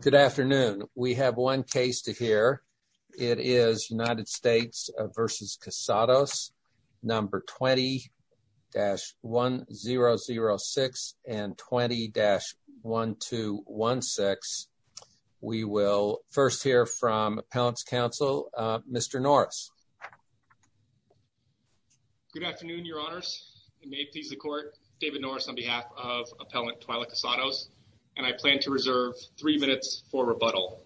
Good afternoon. We have one case to hear. It is United States v. Casados, No. 20-1006 and 20-1216. We will first hear from Appellant's Counsel, Mr. Norris. Good afternoon, Your Honors. It may please the Court. David Norris on behalf of Appellant Twyla Casados, and I plan to reserve three minutes for rebuttal.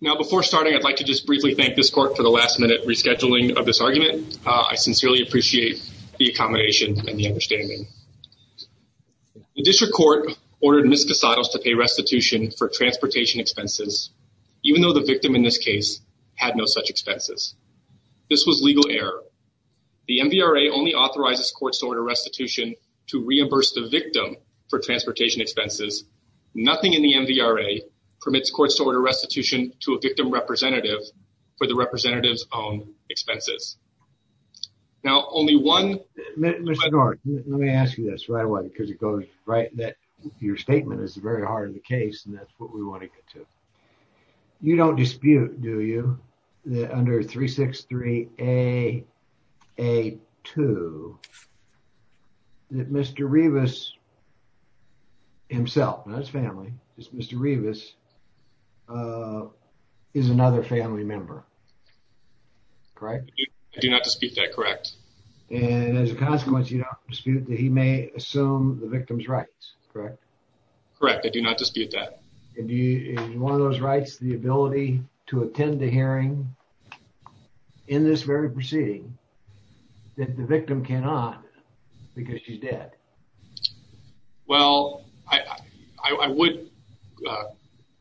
Now before starting, I'd like to just briefly thank this Court for the last-minute rescheduling of this argument. I sincerely appreciate the accommodation and the understanding. The District Court ordered Ms. Casados to pay restitution for transportation expenses, even though the victim in this case had no such expenses. This was legal error. The MVRA only authorizes courts to order restitution to reimburse the victim for transportation expenses. Nothing in the MVRA permits courts to order restitution to a victim representative for the representative's own expenses. Now only one... Mr. Norris, let me ask you this right away because it goes right that your statement is very hard in the case and that's what we want to get to. You don't dispute, do you, that under 363-AA2 that Mr. Rivas himself, not his family, just Mr. Rivas, is another family member, correct? I do not dispute that, correct. And as a consequence, you don't dispute that he may assume the victim's rights, correct? Correct. I do not dispute that. Is one of those rights the ability to attend the hearing in this very proceeding that the victim cannot because she's dead? Well, I would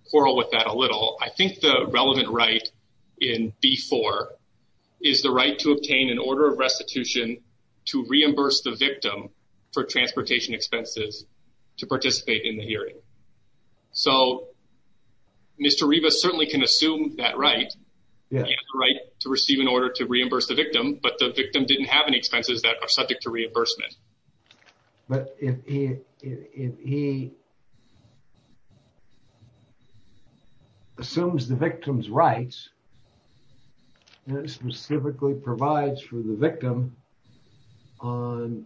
quarrel with that a little. I think the relevant right in B-4 is the right to obtain an order of restitution to reimburse the victim for transportation expenses to participate in the hearing. So Mr. Rivas certainly can assume that right, the right to receive an order to reimburse the victim, but the victim didn't have any expenses that are subject to reimbursement. But if he assumes the victim's rights and specifically provides for the victim on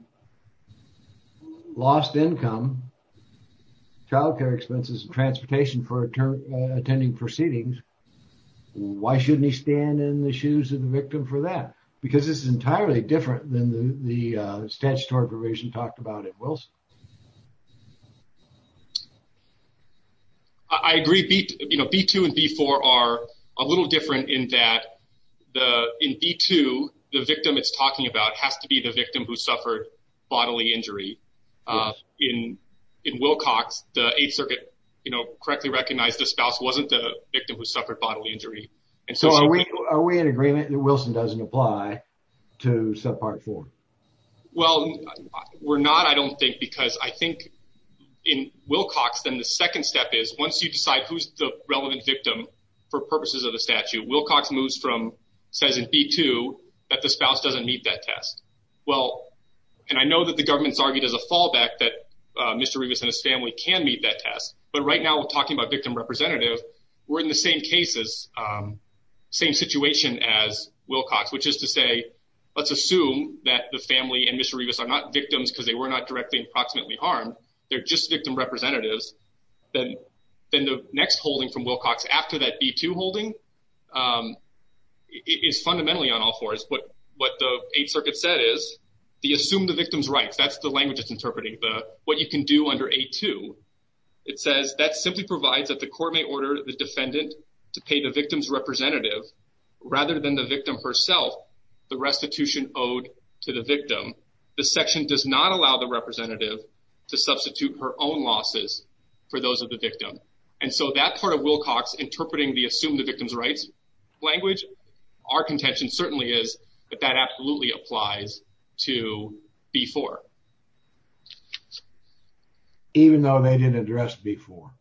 lost income, child care expenses, transportation for attending proceedings, why shouldn't he stand in the shoes of the victim for that? Because this is entirely different than the statutory provision talked about at Wilson. I agree. B-2 and B-4 are a little different in that in B-2, the victim it's talking about has to be the victim who suffered bodily injury. In Wilcox, the Eighth Circuit correctly recognized the spouse wasn't the victim who suffered bodily injury. So are we in agreement that Wilson doesn't apply to subpart four? Well, we're not, I don't think, because I think in Wilcox, then the second step is once you decide who's the relevant victim for purposes of the statute, Wilcox moves from, says in B-2, that the spouse doesn't meet that test. Well, and I know that the government's argued as a fallback that Mr. Rivas and his family can meet that test, but right now we're talking about victim representative. We're in the same cases, same situation as Wilcox, which is to say, let's assume that the family and Mr. Rivas are not victims because they were not directly approximately harmed. They're just victim representatives. Then the next holding from Wilcox after that B-2 holding is fundamentally on all fours. What the Eighth Circuit said is, they assume the victim's rights. That's the language it's interpreting, what you can do under A-2. It says, that simply provides that the court may order the defendant to pay the victim's representative, rather than the victim herself, the restitution owed to the victim. The section does not allow the representative to substitute her own losses for those of the victim. And so that part of Wilcox interpreting the assume the victim's rights language, our contention certainly is that that absolutely applies to B-4. Even though they didn't address B-4.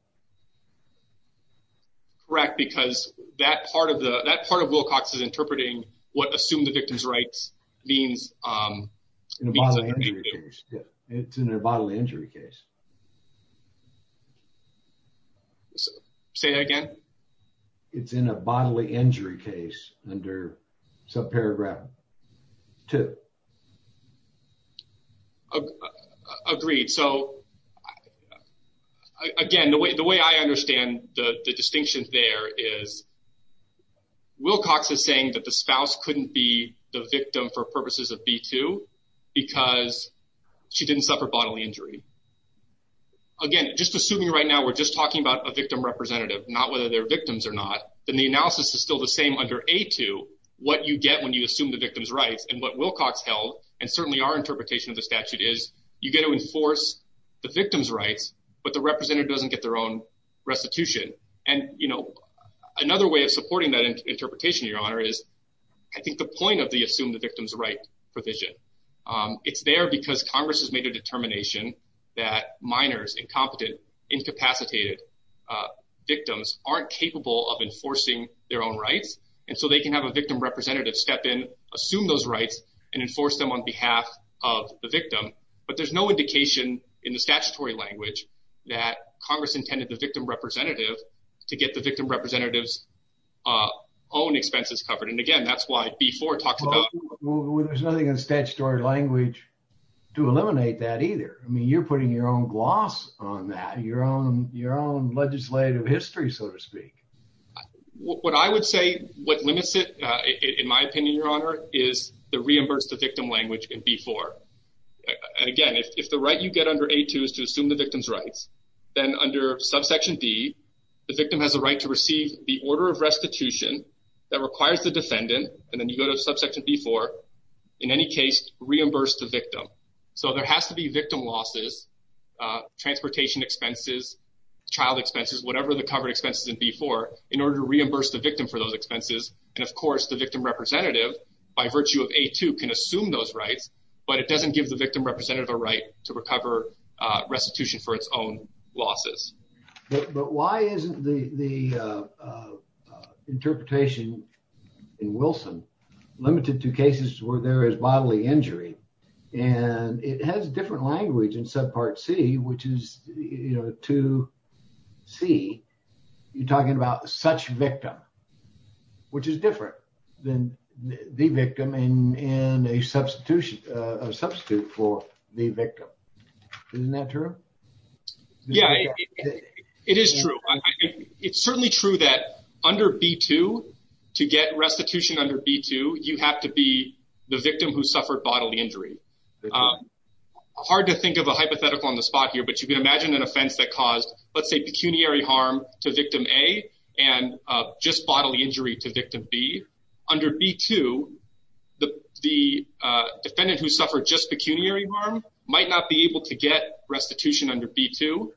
Correct, because that part of Wilcox is interpreting what assume the victim's rights means. It's in a bodily injury case. Say that again. It's in a bodily injury case under subparagraph two. Agreed. So again, the way I understand the distinction there is Wilcox is saying that the spouse couldn't be the victim for purposes of B-2 because she didn't suffer bodily injury. Again, just assuming right now we're just talking about a victim representative, not whether they're victims or not, then the analysis is still the same under A-2, what you get when you assume the victim's rights and what Wilcox held, and certainly our interpretation of the statute is, you get to enforce the victim's rights, but the representative doesn't get their own restitution. And another way of supporting that interpretation, Your Honor, is I think the point of the assume the victim's right provision. It's there because Congress has made a determination that minors, incompetent, incapacitated victims aren't capable of enforcing their own rights. And so they can have a victim representative step in, assume those rights, and enforce them on behalf of the victim. But there's no indication in the statutory language that Congress intended the victim representative to get the victim representative's own expenses covered. And again, that's why B-4 talks about- Well, there's nothing in statutory language to eliminate that either. I mean, you're putting your own gloss on that, your own legislative history, so to speak. What I would say, what limits it, in my opinion, Your Honor, is the reimburse the victim language in B-4. And again, if the right you get under A-2 is to assume the victim's rights, then under subsection D, the victim has a right to receive the order of restitution that requires the defendant, and then you go to subsection B-4, in any case, reimburse the victim. So there has to be victim losses, transportation expenses, child expenses, whatever the covered expenses in B-4, in order to reimburse the victim for those expenses. And of course, the victim representative, by virtue of A-2, can assume those rights, but it doesn't give the victim representative a right to recover restitution for its own losses. But why isn't the interpretation in Wilson limited to cases where there is bodily injury? And it has different language in subpart C, which is, you know, to C, you're talking about such victim, which is different than the victim in a substitution, a substitute for the victim. Isn't that true? Yeah, it is true. It's certainly true that under B-2, to get restitution under B-2, you have to be the victim who suffered bodily injury. Hard to think of a hypothetical on the spot here, but you can imagine an offense that caused, let's say, pecuniary harm to victim A, and just bodily injury to victim B. Under B-2, the defendant who suffered just pecuniary harm might not be able to get restitution under B-2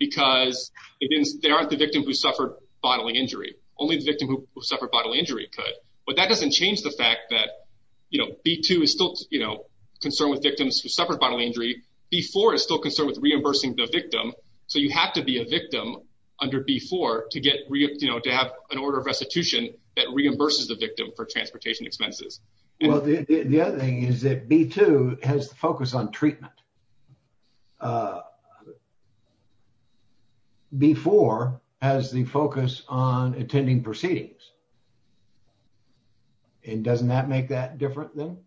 because they aren't the victim who suffered bodily injury. Only the victim who suffered bodily injury could. But that doesn't change the fact that B-2 is still concerned with victims who suffered bodily injury. B-4 is still concerned with reimbursing the victim. So you have to be a victim under B-4 to have an order of restitution that reimburses the victim for transportation expenses. Well, the other thing is that B-2 has the focus on treatment. B-4 has the focus on attending proceedings. And doesn't that make that different then?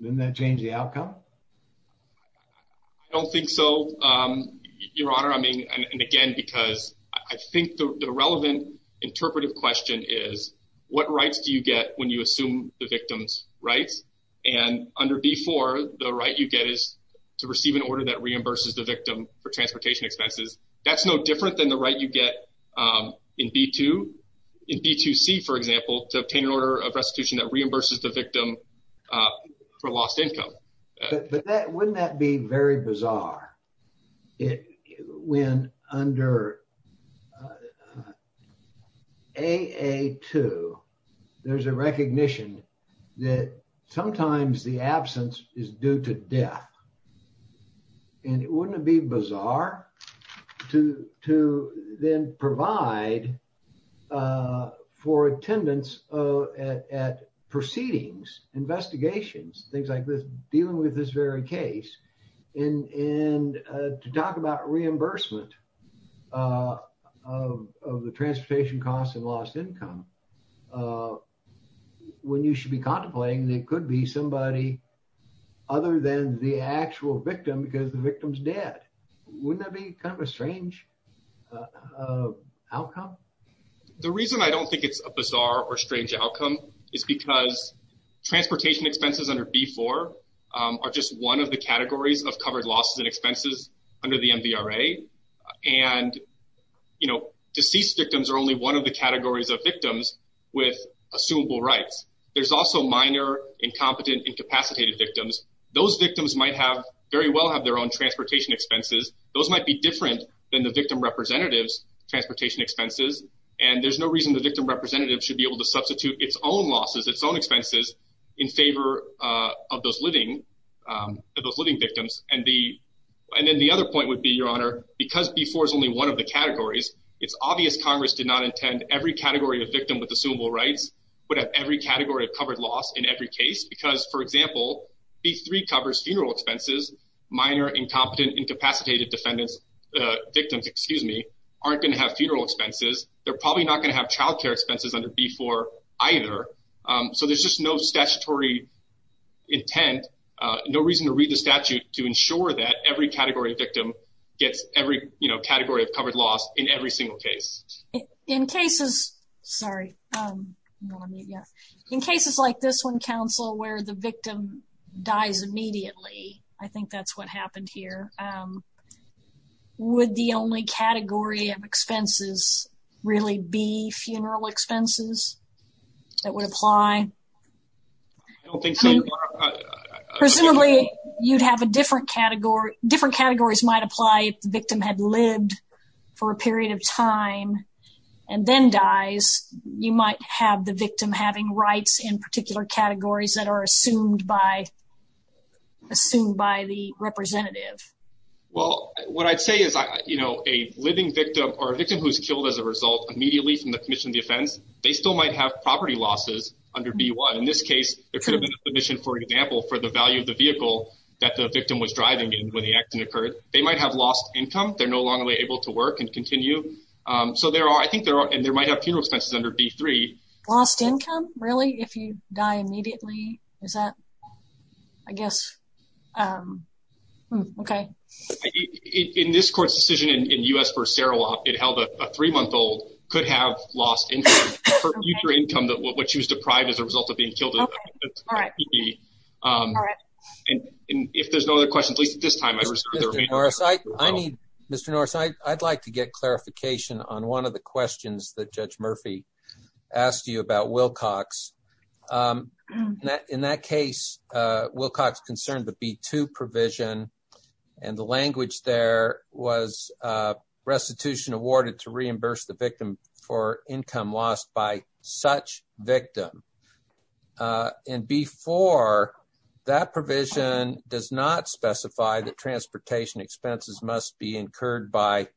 Doesn't that change the outcome? I don't think so, Your Honor. I mean, and again, because I think the relevant interpretive question is what rights do you get when you assume the victim's rights? And under B-4, the right you get is to receive an order that reimburses the victim for transportation expenses. That's no different than the right you get in B-2. In B-2C, for example, to obtain an order of restitution that reimburses the victim for lost income. But wouldn't that be very bizarre when under A-A-2, there's a recognition that sometimes the absence is due to death. And wouldn't it be bizarre to then provide for attendance at proceedings, investigations, things like this, dealing with this very case, and to talk about reimbursement of the transportation costs and lost income when you should be contemplating that it could be somebody other than the actual victim because the victim's dead. Wouldn't that be kind of a strange outcome? The reason I don't think it's a bizarre or strange outcome is because transportation expenses under B-4 are just one of the categories of covered losses and expenses under the MVRA. And deceased victims are only one of the categories of victims with assumable rights. There's also minor, incompetent, incapacitated victims. Those victims might very well have their own transportation expenses. Those might be different than the victim representative's transportation expenses. And there's no reason the victim representative should be able to substitute its own losses, its own expenses in favor of those living victims. And then the other point would be, Your Honor, because B-4 is only one of the categories, it's obvious Congress did not intend every category of victim with assumable rights would have every category of covered loss in every case. Because, for example, B-3 covers funeral expenses. Minor, incompetent, incapacitated defendants, victims, excuse me, aren't going to have funeral expenses. They're probably not going to have child care expenses under B-4 either. So there's just no statutory intent, no reason to read the statute to ensure that every category of victim gets every, you know, category of covered loss in every single case. In cases like this one, counsel, where the victim dies immediately, I think that's what happened here. Would the only category of expenses really be funeral expenses that would apply? I don't think so. Presumably, you'd have a different category, different categories might apply if the victim had lived for a period of time and then dies. You might have the victim having rights in particular categories that are assumed by the representative. Well, what I'd say is, you know, a living victim or a victim who's killed as a result immediately from the Commission of Defense, they still might have property losses under B-1. In this case, there could have been a commission, for example, for the value of the vehicle that the victim was driving in when the accident occurred. They might have lost income. They're no longer able to work and continue. So there are, I think there are, and there might have funeral expenses under B-3. Lost income, really, if you die immediately? Is that, I guess, okay. In this court's decision in U.S. versus Sarawak, it held a three-month-old could have lost income, future income, that what she was deprived as a result of being killed. All right. And if there's no other questions, at least at this time, I reserve the remainder. I need, Mr. Norris, I'd like to get clarification on one of the questions that Judge Murphy asked you about Wilcox. In that case, Wilcox concerned the B-2 provision, and the language there was restitution awarded to reimburse the victim for income lost by such victim. And B-4, that provision does not specify that transportation expenses must be reimbursed.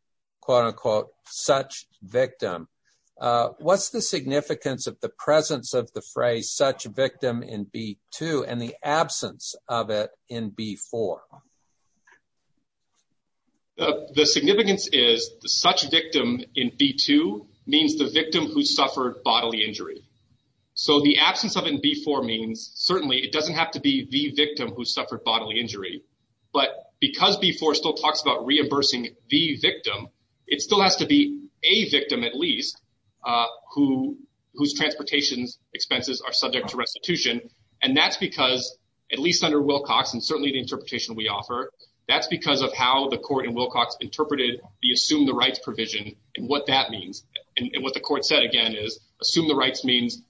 What's the significance of the presence of the phrase such victim in B-2 and the absence of it in B-4? The significance is such victim in B-2 means the victim who suffered bodily injury. So the absence of it in B-4 means, certainly, it doesn't have to be the victim who suffered bodily injury. But because B-4 still talks about reimbursing the victim, it still has to be a victim, at least, whose transportation expenses are subject to restitution. And that's because, at least under Wilcox, and certainly the interpretation we offer, that's because of how the court in Wilcox interpreted the assume the rights provision and what that means. And what the court said, again, is assume the rights means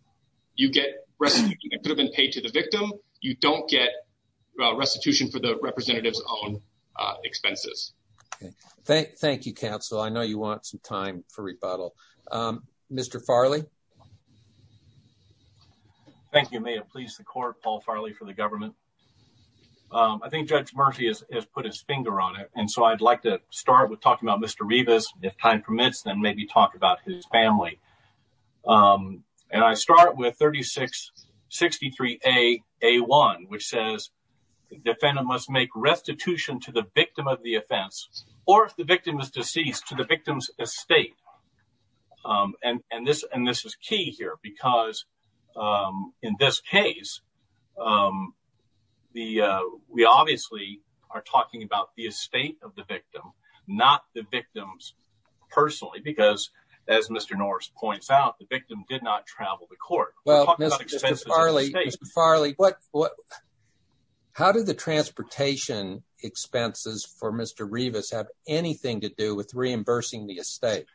you get restitution that could have been paid to the victim. You don't get restitution for the representative's own expenses. Okay. Thank you, counsel. I know you want some time for rebuttal. Mr. Farley? Thank you. May it please the court, Paul Farley for the government. I think Judge Murphy has put his finger on it. And so I'd like to start with talking about Mr. Rivas. If time permits, then maybe talk about his family. And I start with 3663A-A1, which says the defendant must make restitution to the victim of the offense, or if the victim is deceased, to the victim's estate. And this is key here, because in this case, we obviously are talking about the estate of the victim, not the victim's personally. Because, as Mr. Norris points out, the victim did not travel to court. Well, Mr. Farley, how did the transportation expenses for Mr. Rivas have anything to do with reimbursing the estate?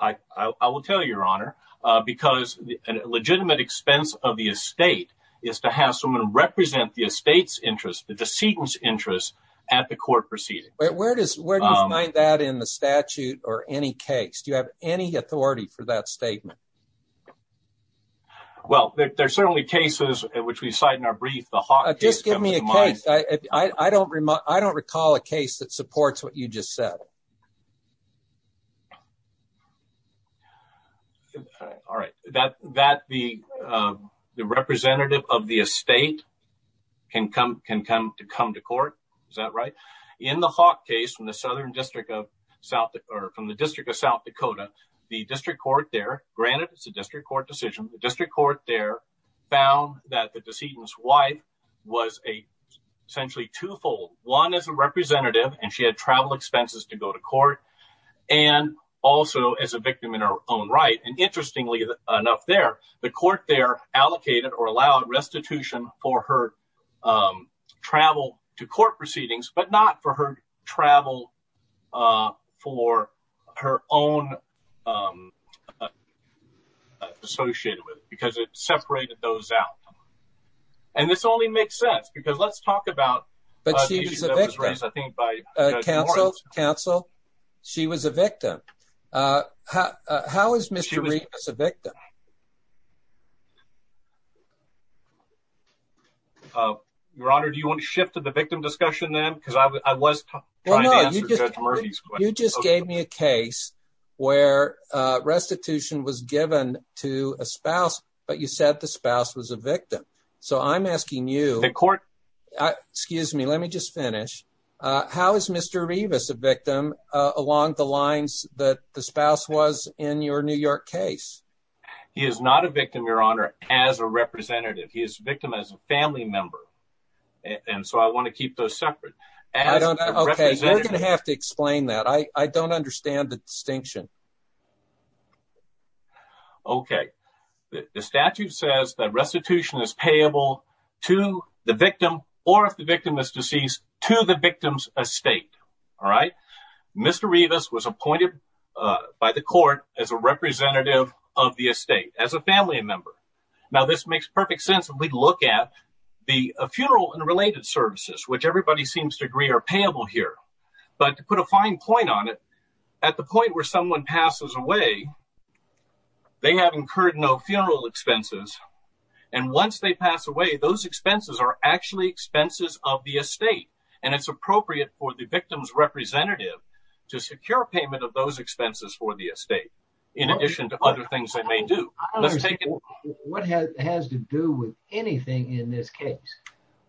I will tell you, Your Honor, because a legitimate expense of the estate is to have someone represent the estate's interest, the decedent's interest, at the court proceeding. Where does that in the statute or any case? Do you have any authority for that statement? Well, there are certainly cases which we cite in our brief. The Hawk case comes to mind. Just give me a case. I don't recall a case that supports what you just said. All right. That the representative of the estate can come to court. Is that right? In the District of South Dakota, the district court there, granted it's a district court decision, the district court there found that the decedent's wife was essentially twofold. One, as a representative, and she had travel expenses to go to court, and also as a victim in her own right. And interestingly enough there, the court there allocated or allowed restitution for her travel for her own associated with it because it separated those out. And this only makes sense because let's talk about... But she was a victim. Counsel, counsel, she was a victim. How is Mr. Reeves a victim? Your Honor, do you want to shift to the victim discussion then? Because I was trying to answer Judge Murphy's question. You just gave me a case where restitution was given to a spouse, but you said the spouse was a victim. So I'm asking you... The court... Excuse me, let me just finish. How is Mr. Reeves a victim along the lines that the spouse was in your New York case? He is not a victim, Your Honor, as a representative. He is a victim as a family member. And so I want to keep those separate. Okay, you're going to have to explain that. I don't understand the distinction. Okay. The statute says that restitution is payable to the victim or if the victim is deceased, to the victim's estate. All right. Mr. Reeves was appointed by the court as a representative of the estate, as a family member. Now, this makes perfect sense if we look at the funeral and related services, which everybody seems to agree are payable here. But to put a fine point on it, at the point where someone passes away, they have incurred no funeral expenses. And once they pass away, those expenses are actually expenses of the estate. And it's appropriate for the victim's representative to secure payment of those expenses for the estate, in addition to other things they may do. What has to do with anything in this case?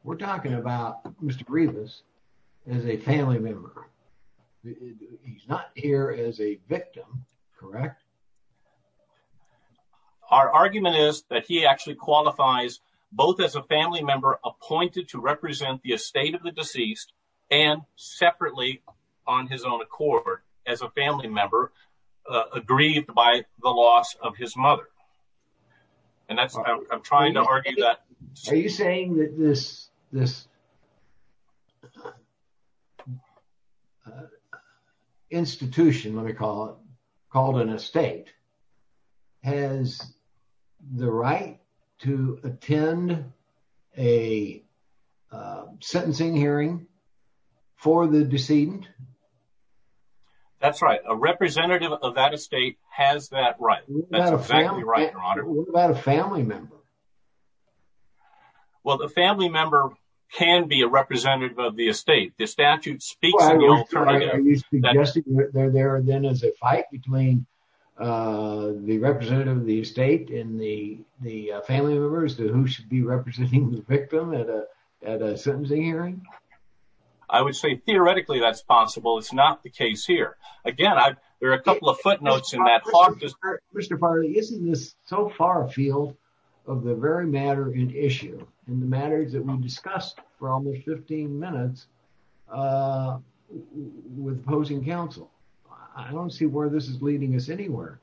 We're talking about Mr. Reeves as a family member. He's not here as a victim, correct? Our argument is that he actually qualifies both as a family member appointed to member agreed by the loss of his mother. And that's I'm trying to argue that. Are you saying that this institution, let me call it, called an estate, has the right to attend a sentencing hearing for the decedent? That's right. A representative of that estate has that right. That's exactly right, your honor. What about a family member? Well, the family member can be a representative of the estate. The statute speaks. They're there then as a fight between the representative of the estate and the family member as to who should be representing the victim at a sentencing hearing. I would say theoretically that's possible. It's not the case here. Again, there are a couple of footnotes in that. Mr. Farley, isn't this so far afield of the very matter and issue and the matters that we discussed for almost 15 minutes with opposing counsel? I don't see where this is leading us to.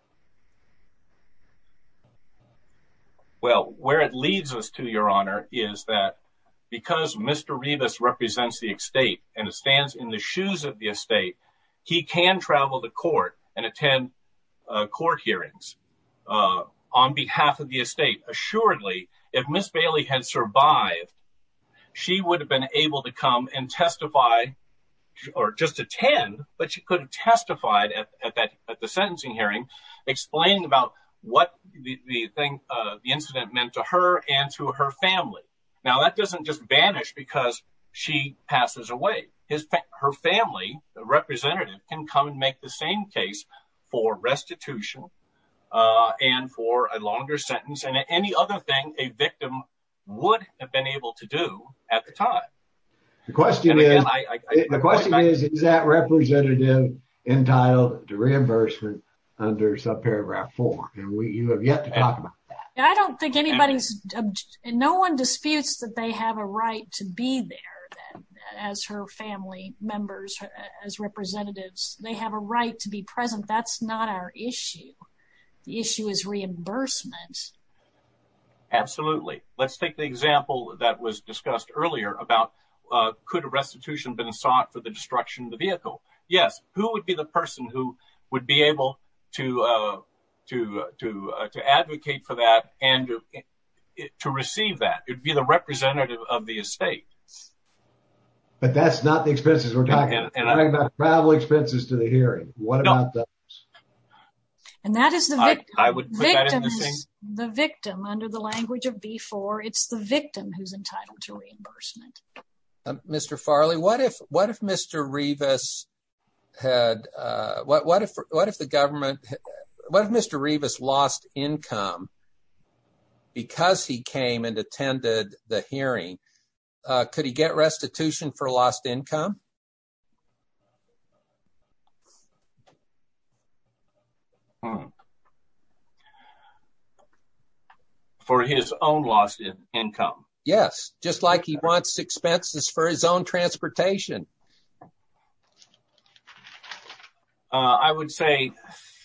Well, where it leads us to, your honor, is that because Mr. Rivas represents the estate and it stands in the shoes of the estate, he can travel to court and attend court hearings on behalf of the estate. Assuredly, if Ms. Bailey had survived, she would have been able to come and testify or just attend, but she could have testified at the sentencing hearing explaining about what the incident meant to her and to her family. Now, that doesn't just vanish because she passes away. Her family, the representative, can come and make the same case for restitution and for a longer sentence and any other thing a victim would have been able to do at the time. The question is, is that representative entitled to reimbursement under subparagraph four? You have yet to talk about that. I don't think anybody's, and no one disputes that they have a right to be there as her family members, as representatives. They have a right to be present. That's not our issue. The issue is reimbursement. Absolutely. Let's take the example that was discussed earlier about could restitution have been sought for the destruction of the vehicle? Yes. Who would be the person who would be able to advocate for that and to receive that? It'd be the representative of the estate. But that's not the expenses we're talking about. Travel expenses to the hearing. No. And that is the victim under the language of B4. It's the victim who's entitled to reimbursement. Mr. Farley, what if Mr. Rivas lost income because he came and attended the hearing? Could he get restitution for lost income? For his own lost income? Yes. Just like he wants expenses for his own transportation. I would say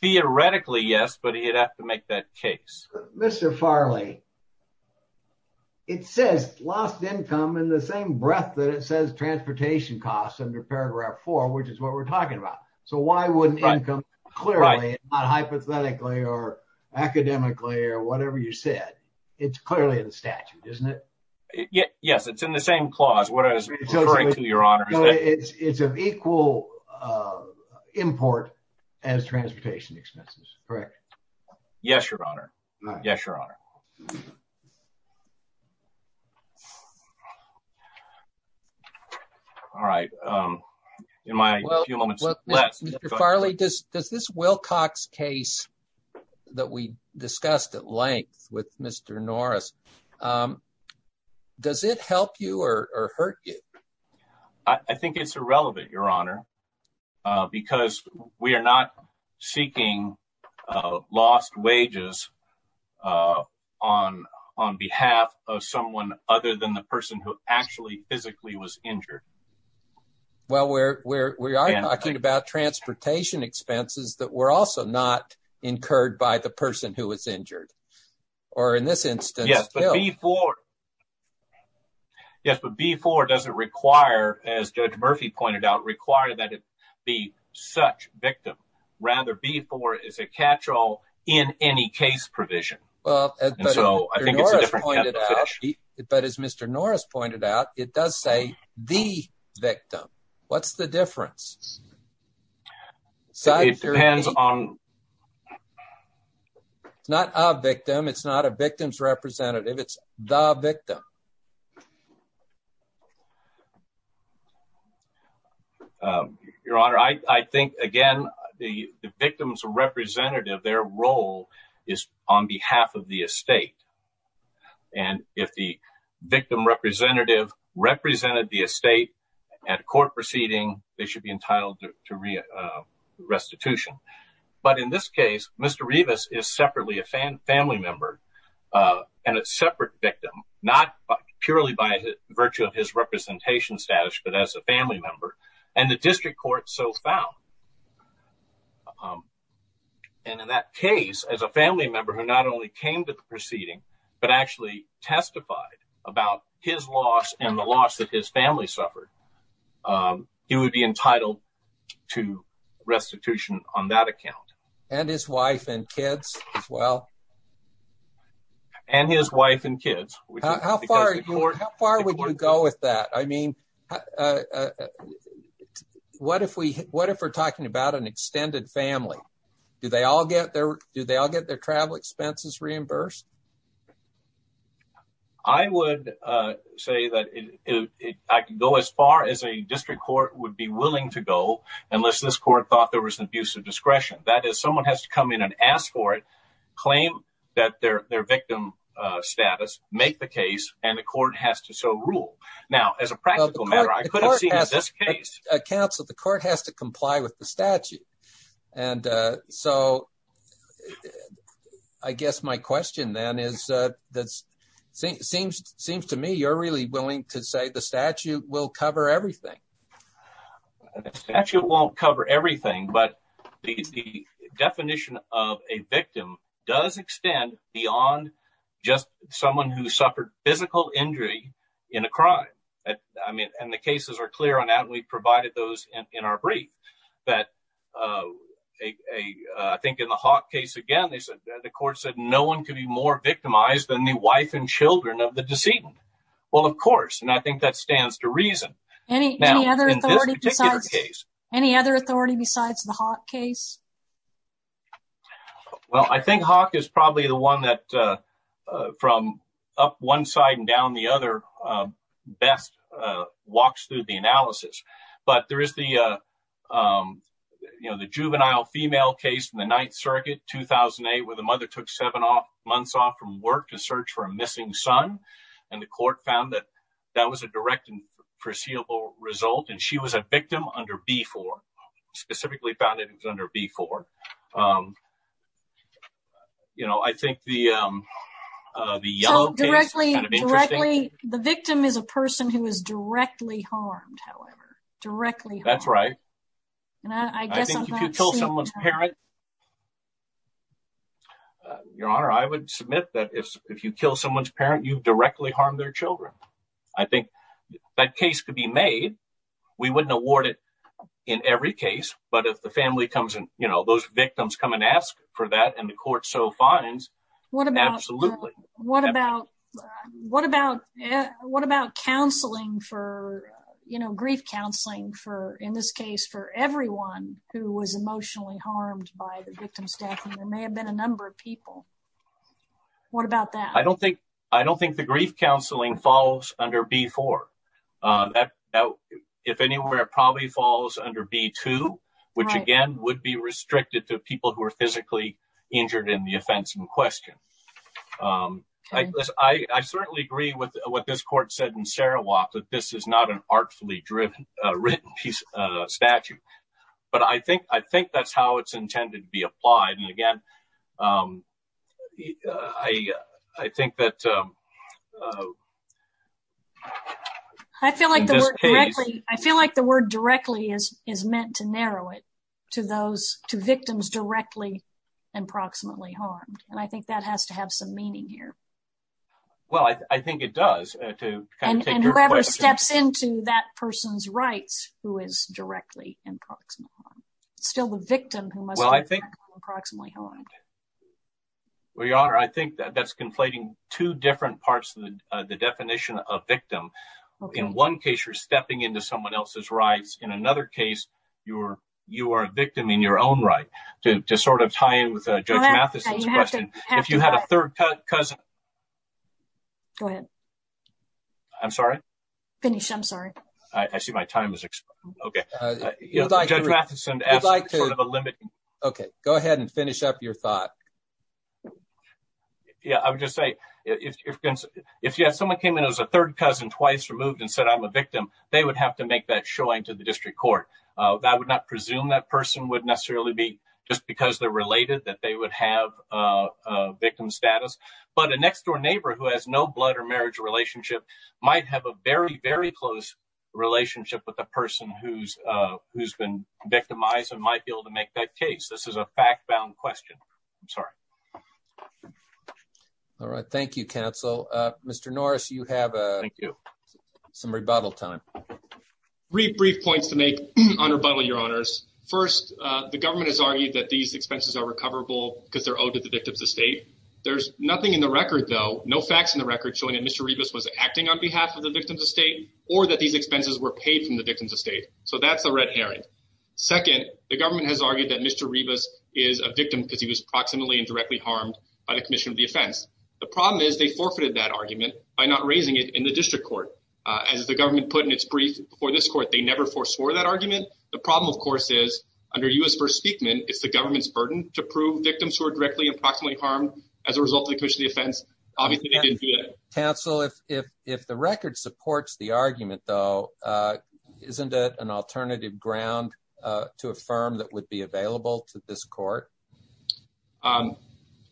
theoretically, yes, but he'd have to make that case. Mr. Farley, it says lost income in the same breadth that it says transportation costs under paragraph four, which is what we're talking about. So why wouldn't income, clearly, not hypothetically or academically or whatever you said, it's clearly in the statute, isn't it? Yes, it's in the same clause, what I was referring to, your honor. It's of equal import as transportation expenses, correct? Yes, your honor. Yes, your honor. All right. Mr. Farley, does this Wilcox case that we discussed at length with Mr. Norris, does it help you or hurt you? I think it's irrelevant, your honor, because we are not seeking lost wages on behalf of someone other than the person who actually, physically was injured. Well, we are talking about transportation expenses that were also not incurred by the person who was injured or in this instance. Yes, but B-4 doesn't require, as Judge Murphy pointed out, require that it be such victim. Rather, B-4 is a catch-all in any case provision. And so I think it's a different kind of fish. But as Mr. Norris pointed out, it does say the victim. What's the difference? It depends on... It's not a victim, it's not a victim's representative, it's the victim. Your honor, I think, again, the victim's representative, their role is on behalf of the estate. And if the victim representative represented the estate at a court proceeding, they should be entitled to restitution. But in this case, Mr. Rivas is separately a family member and a separate victim, not purely by virtue of his representation status, but as a family member, and the district court so found. And in that case, as a family member who not only came to the proceeding, but actually testified about his loss and the loss that his family suffered, he would be entitled to restitution on that account. And his wife and kids as well? And his wife and kids. How far would you go with that? I mean, what if we're talking about an extended family? Do they all get their travel expenses reimbursed? I would say that I can go as far as a district court would be willing to go, unless this court thought there was an abuse of discretion. That is, someone has to come in and ask for it, claim that their victim status, make the case, and the court has to so rule. Now, as a practical matter, I could have seen this case. Counsel, the court has to comply with the statute. And so, I guess my question then is, it seems to me you're really willing to say the statute will cover everything, but the definition of a victim does extend beyond just someone who suffered physical injury in a crime. I mean, and the cases are clear on that, and we provided those in our brief. But I think in the Hawk case, again, the court said no one could be more victimized than the wife and children of the decedent. Well, of course, and I think that stands to reason. Any other authority besides the Hawk case? Well, I think Hawk is probably the one that, from up one side and down the other, best walks through the analysis. But there is the juvenile female case in the Ninth Circuit, 2008, where the mother took seven months off from work to search for a missing son, and the court found that that was a direct and foreseeable result, and she was a victim under B-4. Specifically found that it was under B-4. You know, I think the yellow case is kind of interesting. So, directly, the victim is a person who is directly harmed, however. Directly harmed. That's right. I think if you kill someone's parent, your honor, I would submit that if you kill someone's parent, you've directly harmed their children. I think that case could be made. We wouldn't award it in every case, but if the family comes and, you know, those victims come and ask for that, and the court so finds, absolutely. What about counseling for, you know, grief counseling for, in this case, for everyone who was emotionally harmed by the victim's death, and there may have been a number of people. What about that? I don't think the grief counseling falls under B-4. If anywhere, it probably falls under B-2, which, again, would be restricted to people who are physically injured in the offense in question. I certainly agree with what this court said in Sarawak, that this is not an artfully driven, written piece of statute, but I think that's how it's intended to be applied, and again, I think that... I feel like the word directly is meant to narrow it to victims directly and proximately harmed, and I think that has to have some meaning here. Well, I think it does. And whoever steps into that person's rights who is directly and proximately harmed. It's still the victim who must be directly and proximately harmed. Well, Your Honor, I think that's conflating two different parts of the definition of victim. In one case, you're stepping into someone else's rights. In another case, you are a victim in your own right. To sort of tie in with Judge Mathison's question, if you had a third cousin... Go ahead. I'm sorry? Finish, I'm sorry. I see my time has expired. Okay. Judge Mathison asked sort of a limiting... Okay, go ahead and finish up your thought. Yeah, I would just say, if someone came in as a third cousin twice removed and said, I'm a victim, they would have to make that showing to the district court. I would not presume that person would necessarily be, just because they're related, that they would have a victim status. But a next door neighbor who has no blood or marriage relationship might have a very, very close relationship with the person who's been victimized and might be able to make that case. This is a fact-bound question. I'm sorry. All right. Thank you, counsel. Mr. Norris, you have some rebuttal time. Three brief points to make on rebuttal, Your Honors. First, the government has argued that these expenses are recoverable because they're owed to the victim's estate. There's nothing in the record, though, no facts in the record showing that Mr. Rebus was acting on behalf of the victim's estate or that these expenses were paid from the victim's estate. So that's a red herring. Second, the government has argued that Mr. Rebus is a victim because he was proximately and directly harmed by the commission of the offense. The problem is they forfeited that argument by not raising it in the district court. As the government put in its brief before this court, they never foreswore that argument. The problem, of course, is under U.S. First Amendment, it's the government's burden to prove victims who are directly and proximately harmed as a result of the commission of the offense. Obviously, they didn't do that. Counsel, if the record supports the argument, though, isn't it an alternative ground to affirm that would be available to this court?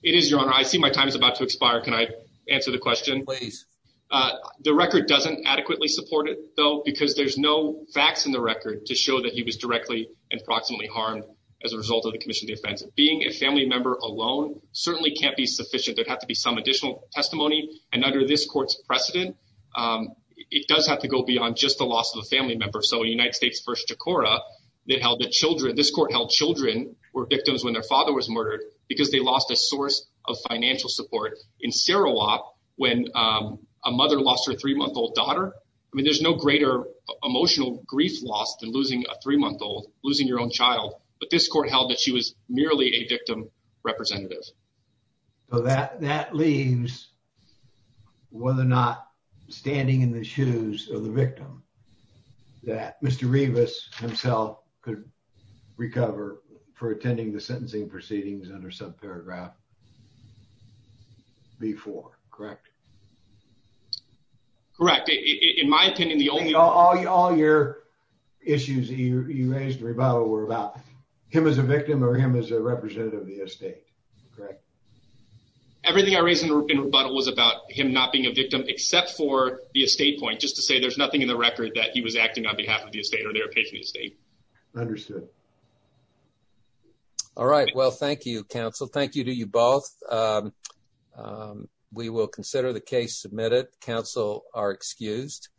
It is, Your Honor. I see my time is about to expire. Can I answer the question? Please. The record doesn't adequately support it, though, because there's no facts in the record to show that he was directly and proximately harmed as a result of the commission of the offense. Being a family member alone certainly can't be sufficient. There'd have to be some additional testimony, and under this court's precedent, it does have to go beyond just the loss of a family member. So in United States v. Jakora, this court held children were victims when their father was murdered because they lost a source of financial support. In Sarawak, when a mother lost her three-month-old daughter, I mean, there's no greater emotional grief loss than losing a child, but this court held that she was merely a victim representative. So that leaves whether or not standing in the shoes of the victim, that Mr. Revis himself could recover for attending the sentencing proceedings under subparagraph B-4, correct? Correct. In my opinion, the only— were about him as a victim or him as a representative of the estate, correct? Everything I raised in rebuttal was about him not being a victim except for the estate point, just to say there's nothing in the record that he was acting on behalf of the estate or their patient estate. Understood. All right. Well, thank you, counsel. Thank you to you both. We will consider the case submitted. Counsel are excused.